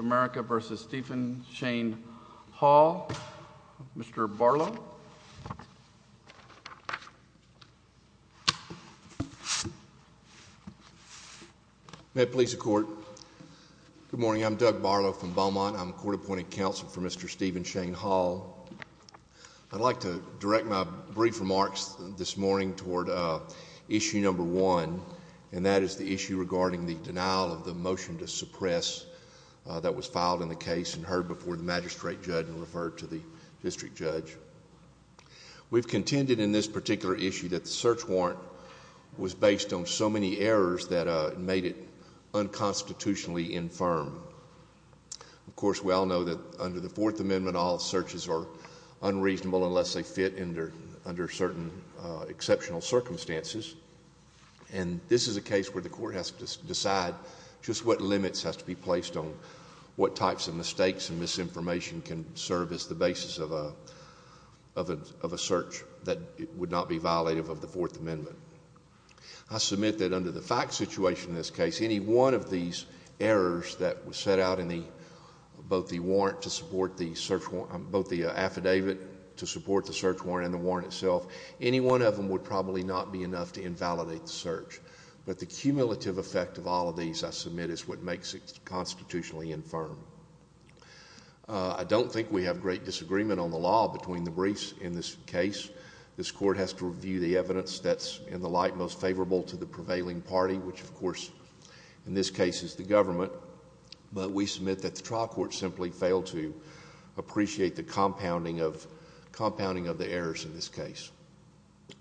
v. Stephen Shane Hall. Mr. Barlow. May it please the court. Good morning. I'm Doug Barlow from Beaumont. I'm court-appointed counsel for Mr. Stephen Shane Hall. I'd like to direct my brief remarks this morning toward issue number one, and that is the issue regarding the denial of the motion to suppress a search warrant that was filed in the case and heard before the magistrate judge and referred to the district judge. We've contended in this particular issue that the search warrant was based on so many errors that it made it unconstitutionally infirm. Of course, we all know that under the Fourth Amendment, all searches are unreasonable unless they fit under certain exceptional circumstances. And this is a case where the court has to decide just what limits have to be placed on what types of mistakes and misinformation can serve as the basis of a search that would not be violative of the Fourth Amendment. I submit that under the fact situation in this case, any one of these errors that was set out in both the affidavit to support the search warrant and the warrant itself, any one of them would probably not be enough to invalidate the search. But the cumulative effect of all of these, I submit, is what makes it constitutionally infirm. I don't think we have great disagreement on the law between the briefs in this case. This court has to review the evidence that's in the light most favorable to the prevailing party, which of course in this case is the government. But we submit that the trial court simply failed to appreciate the compounding of the errors in this case.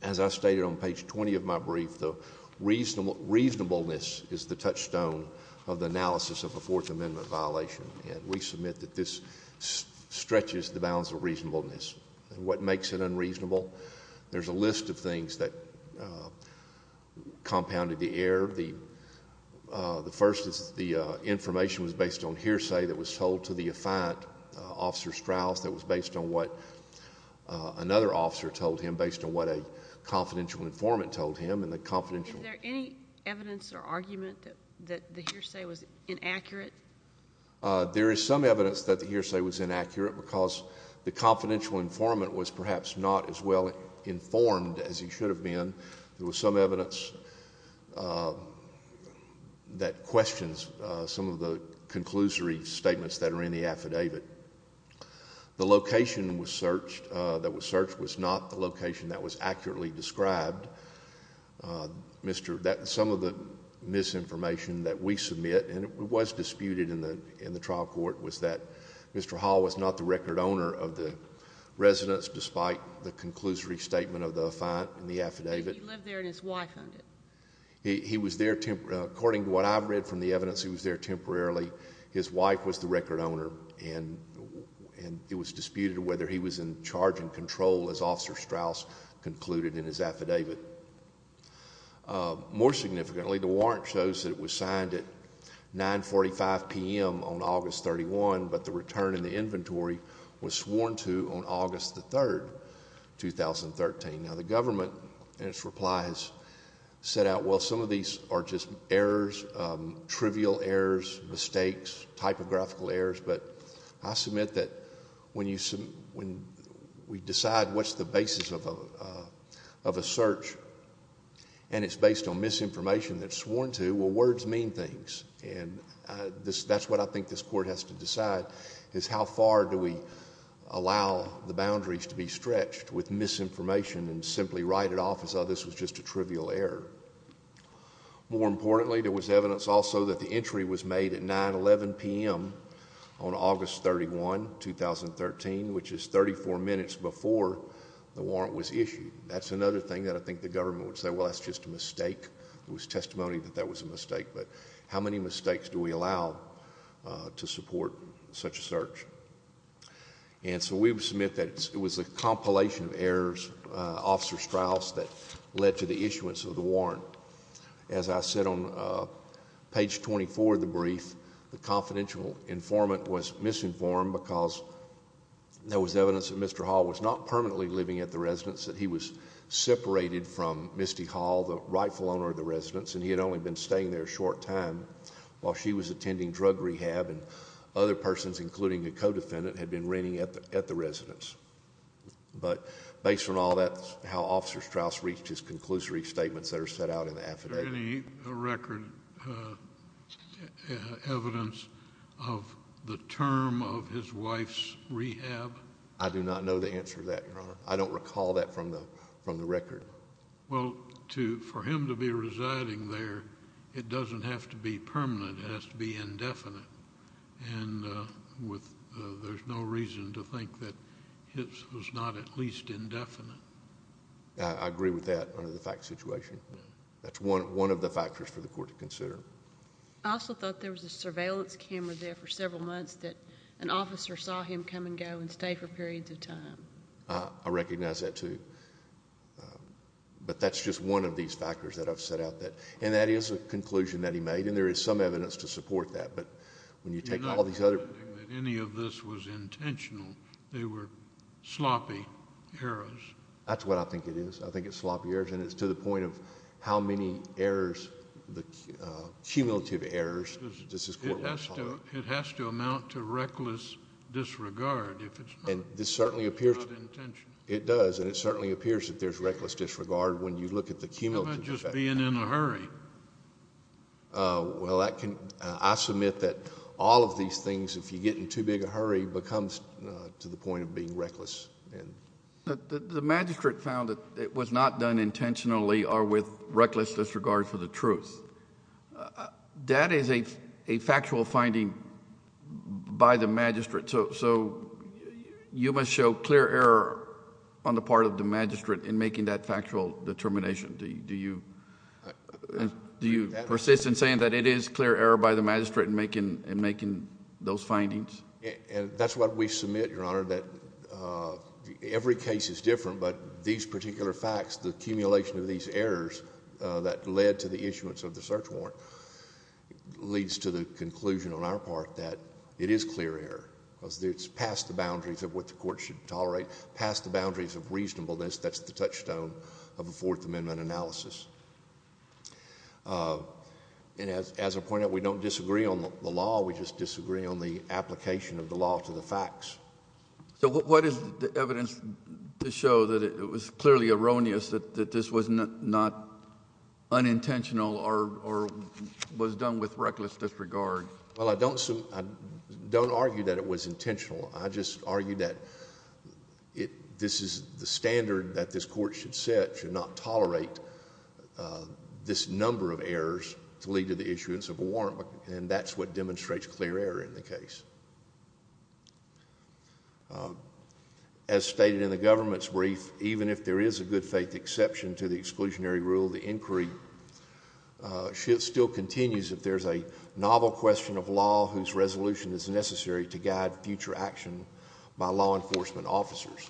As I stated on page 20 of my brief, the reasonableness is the touchstone of the analysis of a Fourth Amendment violation. And we submit that this stretches the bounds of reasonableness. What makes it unreasonable? There's a list of things that compounded the error. The first is the information was based on hearsay that was told to the affiant, Officer Strauss, that was based on what another officer told him, based on what a confidential informant told him. Is there any evidence or argument that the hearsay was inaccurate? There is some evidence that the hearsay was inaccurate because the confidential informant was perhaps not as well informed as he should have been. There was some evidence that questions some of the conclusory statements that are in the affidavit. The location that was searched was not the location that was accurately described. Some of the misinformation that we submit, and it was disputed in the trial court, was that Mr. Hall was not the record owner of the residence despite the conclusory statement of the affiant in the affidavit. He lived there and his wife owned it. He was there temporarily. According to what I've read from the evidence, he was there temporarily. His wife was the record owner, and it was disputed whether he was in charge and control, as Officer Strauss concluded in his affidavit. More significantly, the warrant shows that it was signed at 9.45 p.m. on August 31, but the return in the inventory was sworn to on August 3, 2013. Now, the government, in its reply, has set out, well, some of these are just errors, trivial errors, mistakes, typographical errors, but I submit that when we decide what's the basis of a search and it's based on misinformation that's sworn to, well, words mean things. That's what I think this court has to decide is how far do we allow the boundaries to be stretched with misinformation and simply write it off as though this was just a trivial error. More importantly, there was evidence also that the entry was made at 9.11 p.m. on August 31, 2013, which is 34 minutes before the warrant was issued. That's another thing that I think the government would say, well, that's just a mistake. There was testimony that that was a mistake, but how many mistakes do we allow to support such a search? And so we submit that it was a compilation of errors, Officer Strauss, that led to the issuance of the warrant. As I said on page 24 of the brief, the confidential informant was misinformed because there was evidence that Mr. Hall was not permanently living at the residence, that he was separated from Misty Hall, the rightful owner of the residence, and he had only been staying there a short time while she was attending drug rehab and other persons, including a co-defendant, had been renting at the residence. But based on all that, how Officer Strauss reached his conclusory statements that are set out in the affidavit. Is there any record evidence of the term of his wife's rehab? I do not know the answer to that, Your Honor. I don't recall that from the record. Well, for him to be residing there, it doesn't have to be permanent. It has to be indefinite. And there's no reason to think that his was not at least indefinite. I agree with that under the fact situation. That's one of the factors for the court to consider. I also thought there was a surveillance camera there for several months that an officer saw him come and go and stay for periods of time. I recognize that, too. But that's just one of these factors that I've set out. And that is a conclusion that he made, and there is some evidence to support that. You're not recommending that any of this was intentional. They were sloppy errors. That's what I think it is. I think it's sloppy errors, and it's to the point of how many errors, cumulative errors, does this court want to tolerate. It has to amount to reckless disregard. It does, and it certainly appears that there's reckless disregard when you look at the cumulative effect. How about just being in a hurry? Well, I submit that all of these things, if you get in too big a hurry, becomes to the point of being reckless. The magistrate found that it was not done intentionally or with reckless disregard for the truth. That is a factual finding by the magistrate, so you must show clear error on the part of the magistrate in making that factual determination. Do you persist in saying that it is clear error by the magistrate in making those findings? That's what we submit, Your Honor, that every case is different, but these particular facts, the accumulation of these errors that led to the issuance of the search warrant, leads to the conclusion on our part that it is clear error. It's past the boundaries of what the court should tolerate, past the boundaries of reasonableness. That's the touchstone of a Fourth Amendment analysis. And as I pointed out, we don't disagree on the law, we just disagree on the application of the law to the facts. So what is the evidence to show that it was clearly erroneous, that this was not unintentional or was done with reckless disregard? Well, I don't argue that it was intentional. I just argue that this is the standard that this court should set, should not tolerate this number of errors to lead to the issuance of a warrant, and that's what demonstrates clear error in the case. As stated in the government's brief, even if there is a good faith exception to the exclusionary rule, the inquiry still continues if there's a novel question of law whose resolution is necessary to guide future action by law enforcement officers.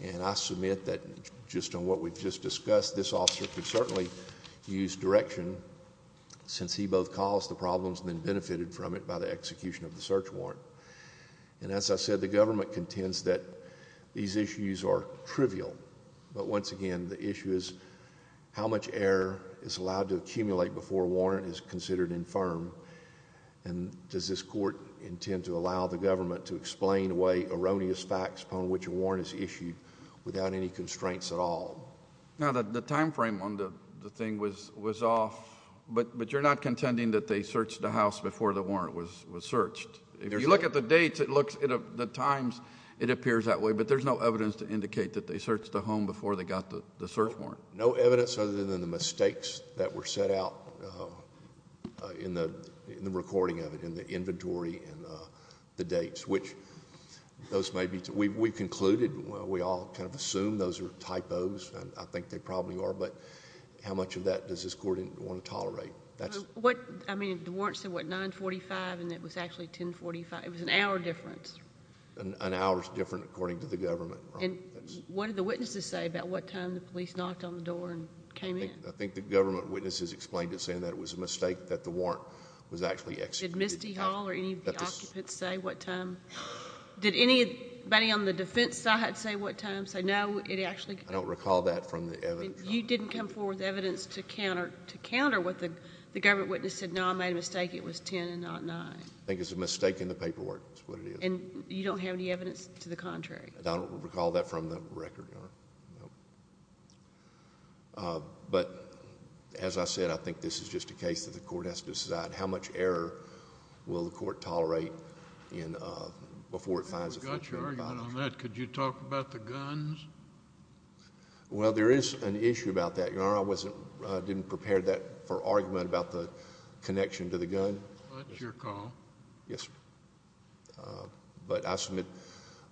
And I submit that, just on what we've just discussed, this officer could certainly use direction, since he both caused the problems and then benefited from it by the execution of the search warrant. And as I said, the government contends that these issues are trivial, but once again, the issue is how much error is allowed to accumulate before a warrant is considered infirm, and does this court intend to allow the government to explain away erroneous facts upon which a warrant is issued without any constraints at all? Now, the timeframe on the thing was off, but you're not contending that they searched the house before the warrant was searched. If you look at the dates, it looks, the times, it appears that way, but there's no evidence to indicate that they searched the home before they got the search warrant. No evidence other than the mistakes that were set out in the recording of it, in the inventory and the dates, which those may be. We concluded, we all kind of assumed those were typos, and I think they probably are, but how much of that does this court want to tolerate? I mean, the warrant said, what, 945, and it was actually 1045. It was an hour difference. An hour is different according to the government. And what did the witnesses say about what time the police knocked on the door and came in? I think the government witnesses explained it, saying that it was a mistake, that the warrant was actually executed. Did Misty Hall or any of the occupants say what time? Did anybody on the defense side say what time? Say, no, it actually... I don't recall that from the evidence. So you didn't come forward with evidence to counter what the government witness said, no, I made a mistake, it was 10 and not 9. I think it's a mistake in the paperwork, is what it is. And you don't have any evidence to the contrary? I don't recall that from the record, Your Honor. No. But, as I said, I think this is just a case that the court has to decide how much error will the court tolerate in... before it finds... I forgot your argument on that. Could you talk about the guns? Well, there is an issue about that, Your Honor. I didn't prepare that for argument about the connection to the gun. That's your call. Yes, sir. But, I submit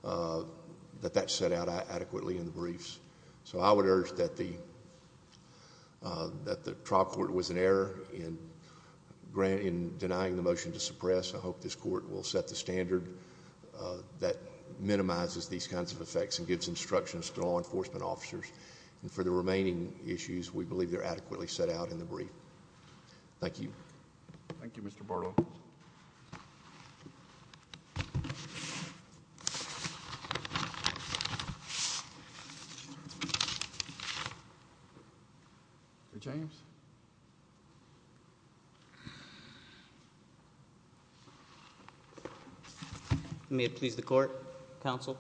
that that's set out adequately in the briefs. So, I would urge that the trial court was in error in denying the motion to suppress. I hope this court will set the standard that minimizes these kinds of effects and gives instructions to law enforcement officers. And, for the remaining issues, we believe they're adequately set out in the brief. Thank you. Thank you, Mr. Bartlett. Mr. James? May it please the Court, Counsel?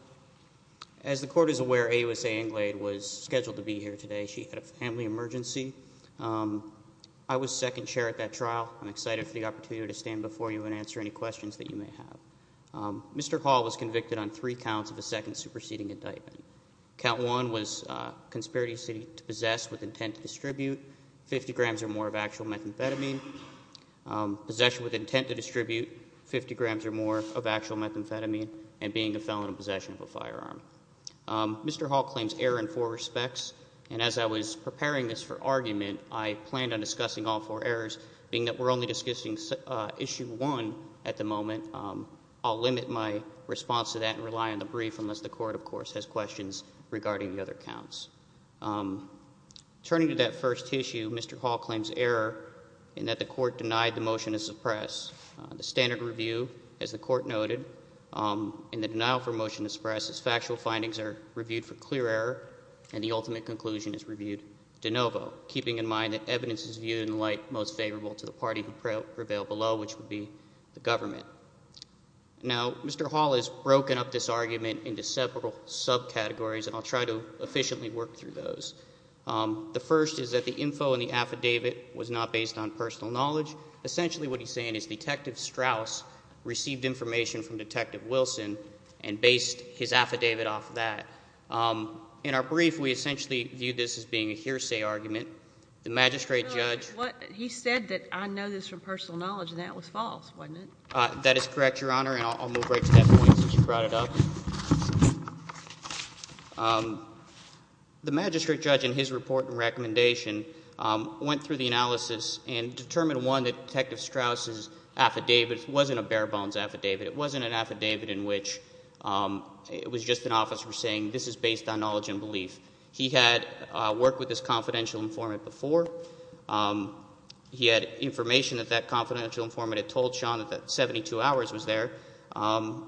As the Court is aware, A.U.S.A. Inglade was scheduled to be here today. She had a family emergency. I was second chair at that trial. I'm excited for the opportunity to stand before you and answer any questions that you may have. Mr. Hall was convicted on three counts of a second superseding indictment. Count one was conspiracy to possess with intent to distribute 50 grams or more of actual methamphetamine. Possession with intent to distribute 50 grams or more of actual methamphetamine and being a felon in possession of a firearm. Mr. Hall claims error in four respects. And, as I was preparing this for argument, I planned on discussing all four errors, being that we're only discussing issue one at the moment. I'll limit my response to that and rely on the brief, unless the Court, of course, has questions regarding the other counts. Turning to that first issue, Mr. Hall claims error in that the Court denied the motion to suppress. The standard review, as the Court noted, in the denial for motion to suppress is factual findings are reviewed for clear error and the ultimate conclusion is reviewed de novo, keeping in mind that evidence is viewed in light most favorable to the party who prevailed below, which would be the government. Now, Mr. Hall has broken up this argument into several subcategories, and I'll try to efficiently work through those. The first is that the info in the affidavit was not based on personal knowledge. Essentially what he's saying is Detective Strauss received information from Detective Wilson and based his affidavit off that. In our brief, we essentially viewed this as being a hearsay argument. The magistrate judge… He said that I know this from personal knowledge, and that was false, wasn't it? That is correct, Your Honor, and I'll move right to that point since you brought it up. The magistrate judge in his report and recommendation went through the analysis and determined, one, that Detective Strauss' affidavit wasn't a bare bones affidavit. It wasn't an affidavit in which it was just an officer saying this is based on knowledge and belief. He had worked with this confidential informant before. He had information that that confidential informant had told Sean that 72 hours was there. There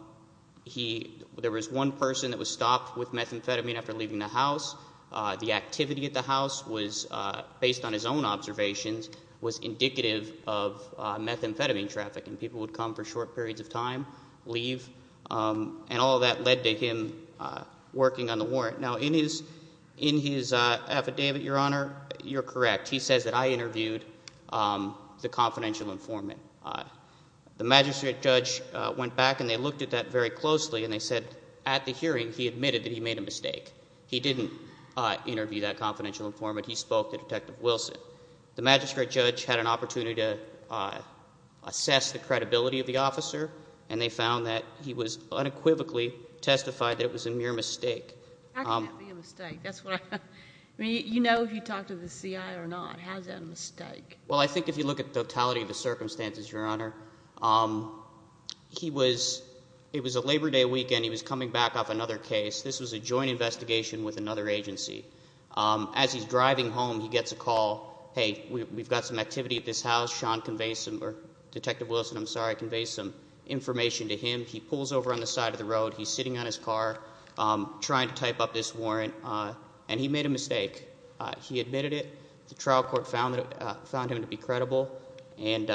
was one person that was stopped with methamphetamine after leaving the house. The activity at the house was, based on his own observations, was indicative of methamphetamine traffic, and people would come for short periods of time, leave, and all of that led to him working on the warrant. Now, in his affidavit, Your Honor, you're correct. He says that I interviewed the confidential informant. The magistrate judge went back, and they looked at that very closely, and they said at the hearing he admitted that he made a mistake. He didn't interview that confidential informant. He spoke to Detective Wilson. The magistrate judge had an opportunity to assess the credibility of the officer, and they found that he unequivocally testified that it was a mere mistake. That can't be a mistake. You know if he talked to the CI or not. How is that a mistake? Well, I think if you look at the totality of the circumstances, Your Honor, it was a Labor Day weekend. He was coming back off another case. This was a joint investigation with another agency. As he's driving home, he gets a call. Hey, we've got some activity at this house. Detective Wilson conveys some information to him. He pulls over on the side of the road. He's sitting on his car trying to type up this warrant, and he made a mistake. He admitted it. The trial court found him to be credible, and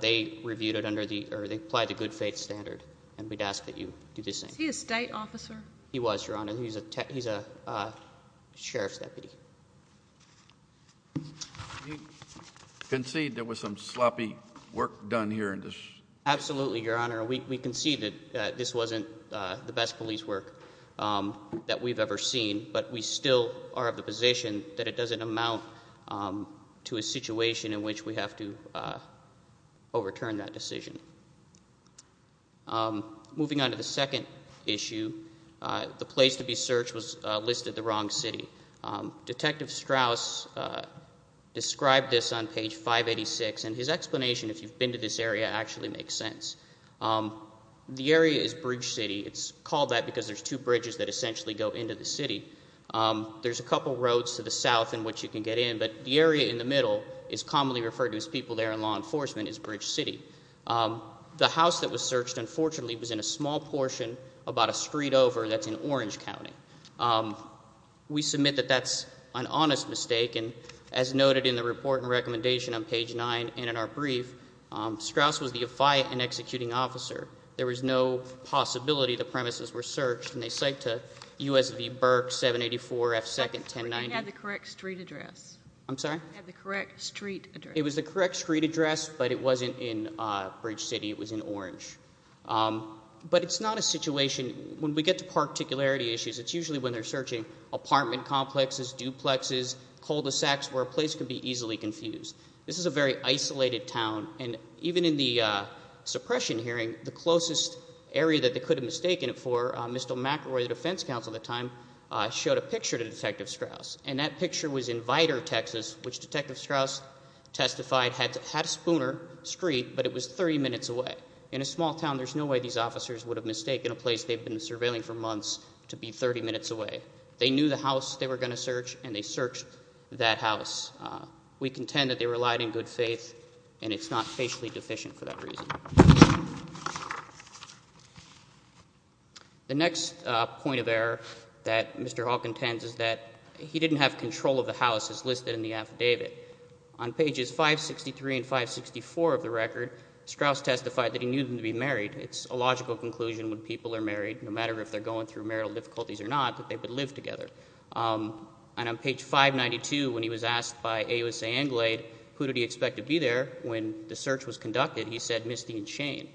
they applied the good faith standard, and we'd ask that you do the same. Is he a state officer? He was, Your Honor. He's a sheriff's deputy. Do you concede there was some sloppy work done here? Absolutely, Your Honor. We concede that this wasn't the best police work that we've ever seen, but we still are of the position that it doesn't amount to a situation in which we have to overturn that decision. Moving on to the second issue, the place to be searched was listed the wrong city. Detective Strauss described this on page 586, and his explanation, if you've been to this area, actually makes sense. The area is Bridge City. It's called that because there's two bridges that essentially go into the city. There's a couple roads to the south in which you can get in, but the area in the middle is commonly referred to as people there in law enforcement is Bridge City. The house that was searched, unfortunately, was in a small portion about a street over that's in Orange County. We submit that that's an honest mistake, and as noted in the report and recommendation on page 9 and in our brief, Strauss was the affiant and executing officer. There was no possibility the premises were searched, and they cite to USV Burke, 784 F 2nd, 1090. You had the correct street address. I'm sorry? You had the correct street address. It was the correct street address, but it wasn't in Bridge City. It was in Orange. But it's not a situation. When we get to particularity issues, it's usually when they're searching apartment complexes, duplexes, cul-de-sacs, where a place could be easily confused. This is a very isolated town, and even in the suppression hearing, the closest area that they could have mistaken it for, Mr. McElroy, the defense counsel at the time, showed a picture to Detective Strauss, and that picture was in Vidor, Texas, which Detective Strauss testified had a spooner street, but it was 30 minutes away. In a small town, there's no way these officers would have mistaken a place they've been surveilling for months to be 30 minutes away. They knew the house they were going to search, and they searched that house. We contend that they relied in good faith, and it's not facially deficient for that reason. The next point of error that Mr. Hall contends is that he didn't have control of the houses listed in the affidavit. On pages 563 and 564 of the record, Strauss testified that he knew them to be married. It's a logical conclusion when people are married, no matter if they're going through marital difficulties or not, that they would live together. And on page 592, when he was asked by AUSA Anglade who did he expect to be there when the search was conducted, he said, Misty and Shane.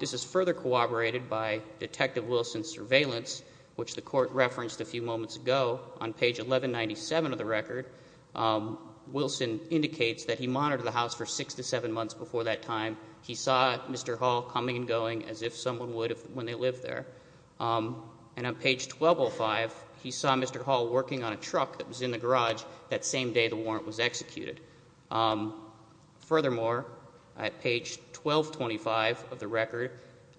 This is further corroborated by Detective Wilson's surveillance, which the court referenced a few moments ago. On page 1197 of the record, Wilson indicates that he monitored the house for six to seven months before that time. He saw Mr. Hall coming and going as if someone would when they lived there. And on page 1205, he saw Mr. Hall working on a truck that was in the garage that same day the warrant was executed. Furthermore, at page 1225 of the record,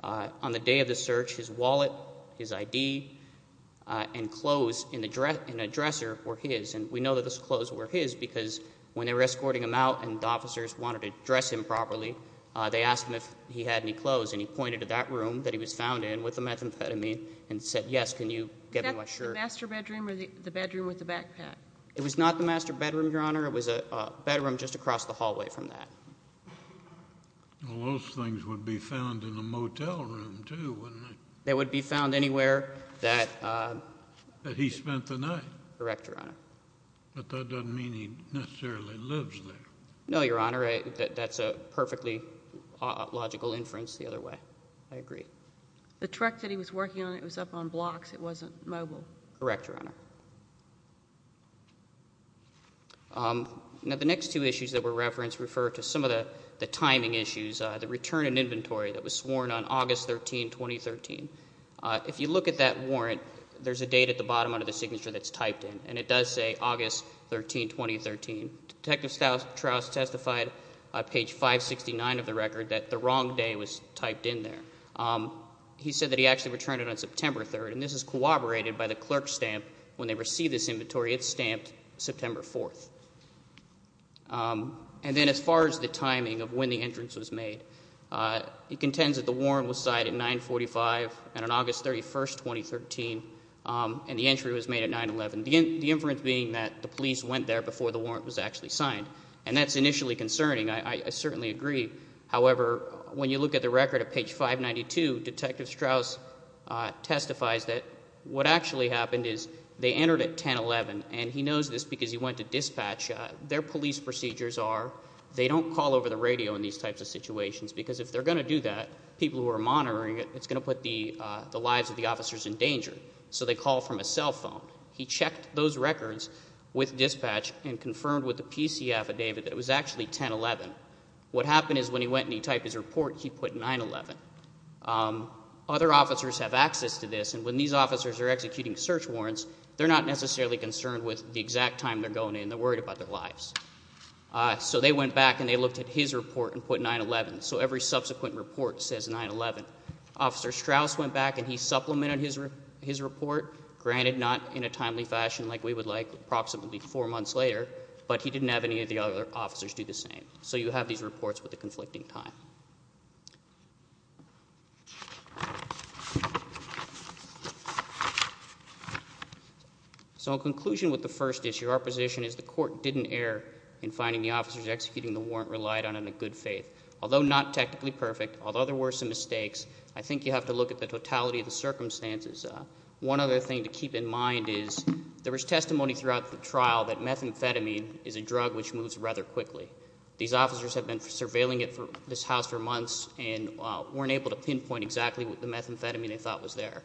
on the day of the search, his wallet, his ID, and clothes in a dresser were his. And we know that those clothes were his because when they were escorting him out and the officers wanted to dress him properly, they asked him if he had any clothes. And he pointed to that room that he was found in with the methamphetamine and said, yes, can you get me my shirt? Is that the master bedroom or the bedroom with the backpack? It was not the master bedroom, Your Honor. It was a bedroom just across the hallway from that. Well, those things would be found in a motel room too, wouldn't they? They would be found anywhere that he spent the night. Correct, Your Honor. But that doesn't mean he necessarily lives there. No, Your Honor. That's a perfectly logical inference the other way. I agree. The truck that he was working on, it was up on blocks. It wasn't mobile. Correct, Your Honor. Now the next two issues that were referenced refer to some of the timing issues, the return in inventory that was sworn on August 13, 2013. If you look at that warrant, there's a date at the bottom under the signature that's typed in, and it does say August 13, 2013. Detective Strauss testified on page 569 of the record that the wrong day was typed in there. He said that he actually returned it on September 3rd, and this is corroborated by the clerk's stamp. When they receive this inventory, it's stamped September 4th. And then as far as the timing of when the entrance was made, it contends that the warrant was signed at 945 on August 31, 2013, and the entry was made at 9-11, the inference being that the police went there before the warrant was actually signed. And that's initially concerning. I certainly agree. However, when you look at the record at page 592, Detective Strauss testifies that what actually happened is they entered at 10-11, and he knows this because he went to dispatch. Their police procedures are they don't call over the radio in these types of situations because if they're going to do that, people who are monitoring it, it's going to put the lives of the officers in danger. So they call from a cell phone. He checked those records with dispatch and confirmed with a PCF affidavit that it was actually 10-11. What happened is when he went and he typed his report, he put 9-11. Other officers have access to this, and when these officers are executing search warrants, they're not necessarily concerned with the exact time they're going in. They're worried about their lives. So they went back and they looked at his report and put 9-11. So every subsequent report says 9-11. Officer Strauss went back and he supplemented his report. Granted, not in a timely fashion like we would like approximately four months later, but he didn't have any of the other officers do the same. So you have these reports with a conflicting time. So in conclusion with the first issue, our position is the court didn't err in finding the officers executing the warrant relied on in a good faith. Although not technically perfect, although there were some mistakes, I think you have to look at the totality of the circumstances. One other thing to keep in mind is there was testimony throughout the trial that methamphetamine is a drug which moves rather quickly. These officers have been surveilling this house for months and weren't able to pinpoint exactly what the methamphetamine they thought was there.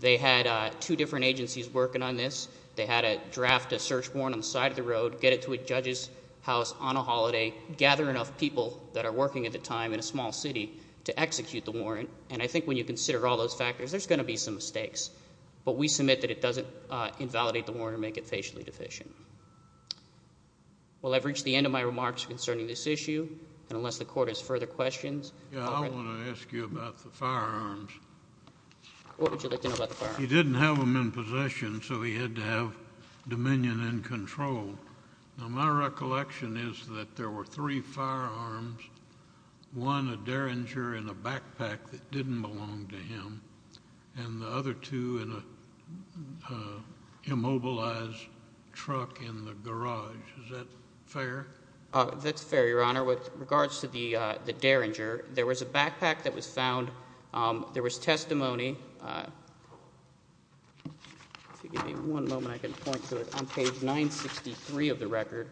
They had two different agencies working on this. They had to draft a search warrant on the side of the road, get it to a judge's house on a holiday, gather enough people that are working at the time in a small city to execute the warrant. And I think when you consider all those factors, there's going to be some mistakes. But we submit that it doesn't invalidate the warrant or make it facially deficient. Well, I've reached the end of my remarks concerning this issue. And unless the court has further questions. I want to ask you about the firearms. What would you like to know about the firearms? He didn't have them in possession, so he had to have dominion and control. Now my recollection is that there were three firearms, one a Derringer and a backpack that didn't belong to him, and the other two in an immobilized truck in the garage. Is that fair? That's fair, Your Honor. With regards to the Derringer, there was a backpack that was found. There was testimony on page 963 of the record,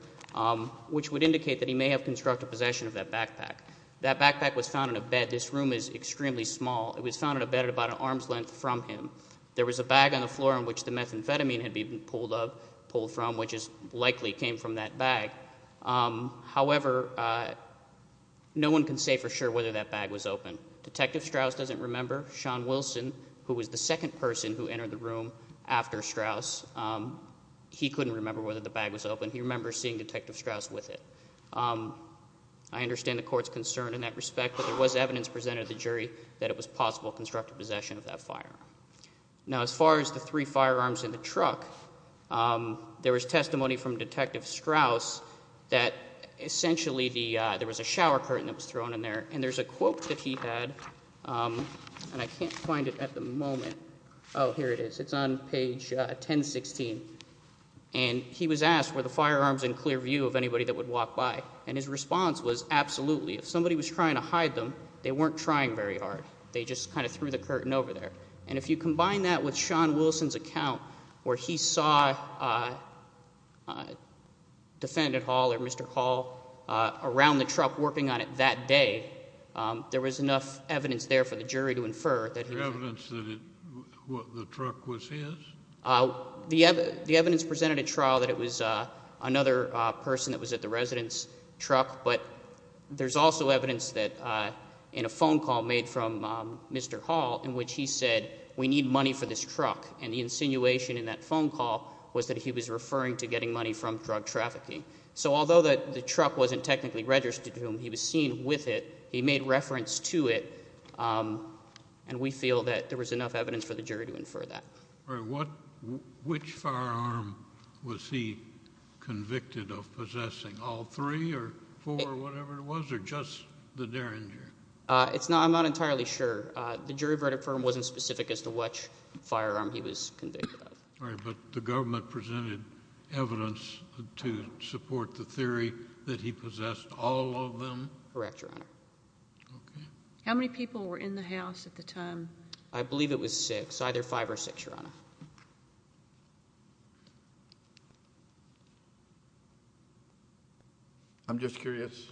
which would indicate that he may have constructed possession of that backpack. That backpack was found in a bed. This room is extremely small. It was found in a bed about an arm's length from him. There was a bag on the floor on which the methamphetamine had been pulled from, which likely came from that bag. However, no one can say for sure whether that bag was open. Detective Strauss doesn't remember. Sean Wilson, who was the second person who entered the room after Strauss, he couldn't remember whether the bag was open. He remembers seeing Detective Strauss with it. I understand the court's concern in that respect, but there was evidence presented to the jury that it was possible constructive possession of that firearm. Now, as far as the three firearms in the truck, there was testimony from Detective Strauss that essentially there was a shower curtain that was thrown in there, and there's a quote that he had, and I can't find it at the moment. Oh, here it is. It's on page 1016. And he was asked, were the firearms in clear view of anybody that would walk by? And his response was, absolutely. If somebody was trying to hide them, they weren't trying very hard. They just kind of threw the curtain over there. And if you combine that with Sean Wilson's account, where he saw Defendant Hall or Mr. Hall around the truck working on it that day, there was enough evidence there for the jury to infer that he was. The evidence that the truck was his? The evidence presented at trial that it was another person that was at the truck, but there's also evidence that in a phone call made from Mr. Hall, in which he said, we need money for this truck. And the insinuation in that phone call was that he was referring to getting money from drug trafficking. So although the truck wasn't technically registered to him, he was seen with it, he made reference to it, and we feel that there was enough evidence for the jury to infer that. All right. Which firearm was he convicted of possessing? All three or four or whatever it was, or just the Derringer? I'm not entirely sure. The jury verdict for him wasn't specific as to which firearm he was convicted of. All right. But the government presented evidence to support the theory that he possessed all of them? Correct, Your Honor. Okay. How many people were in the house at the time? I believe it was six. It was either five or six, Your Honor. I'm just curious,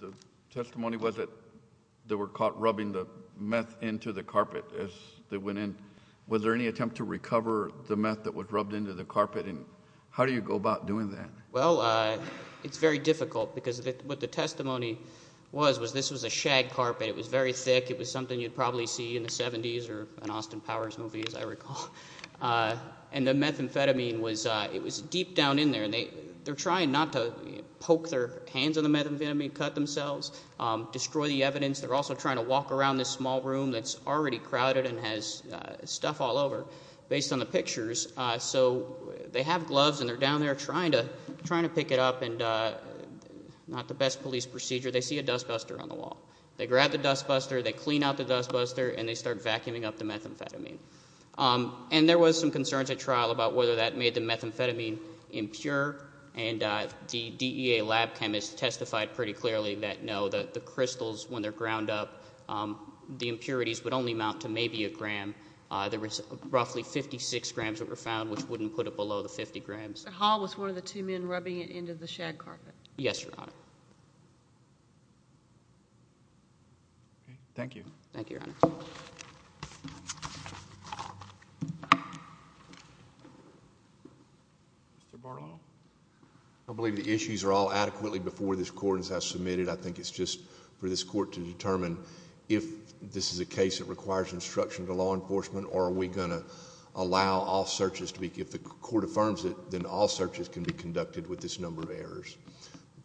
the testimony was that they were caught rubbing the meth into the carpet as they went in. Was there any attempt to recover the meth that was rubbed into the carpet? And how do you go about doing that? Well, it's very difficult because what the testimony was, was this was a shag carpet. It was very thick. It was something you'd probably see in the 70s or an Austin Powers movie, as I recall. And the methamphetamine was deep down in there, and they're trying not to poke their hands on the methamphetamine, cut themselves, destroy the evidence. They're also trying to walk around this small room that's already crowded and has stuff all over, based on the pictures. So they have gloves, and they're down there trying to pick it up, and not the best police procedure. They see a dust buster on the wall. They grab the dust buster, they clean out the dust buster, and they start vacuuming up the methamphetamine. And there was some concerns at trial about whether that made the methamphetamine impure, and the DEA lab chemists testified pretty clearly that no, the crystals, when they're ground up, the impurities would only amount to maybe a gram. There was roughly 56 grams that were found, which wouldn't put it below the 50 grams. So Hall was one of the two men rubbing it into the shag carpet? Yes, Your Honor. Thank you. Thank you, Your Honor. Mr. Barlow? I believe the issues are all adequately before this court has submitted. I think it's just for this court to determine if this is a case that requires instruction to law enforcement, or are we going to allow all searches to be, if the court affirms it, then all searches can be conducted with this number of errors.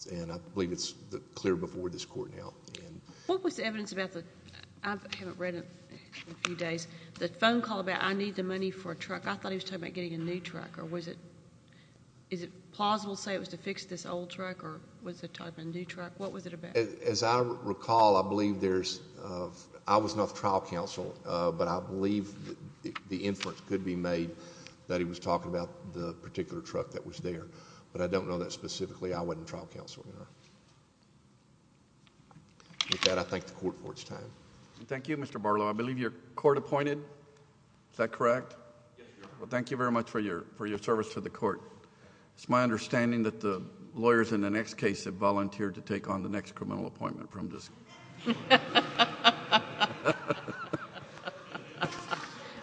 And I believe it's clear before this court now. What was the evidence about the... I haven't read it in a few days. The phone call about, I need the money for a truck, I thought he was talking about getting a new truck. Or was it... is it plausible to say it was to fix this old truck, or was it talking about a new truck? What was it about? As I recall, I believe there's... I was not the trial counsel, but I believe the inference could be made that he was talking about the particular truck that was there. But I don't know that specifically. I wasn't trial counsel, Your Honor. With that, I thank the court for its time. Thank you, Mr. Barlow. I believe you're court appointed. Is that correct? Yes, Your Honor. Well, thank you very much for your service to the court. It's my understanding that the lawyers in the next case have volunteered to take on the next criminal appointment from this...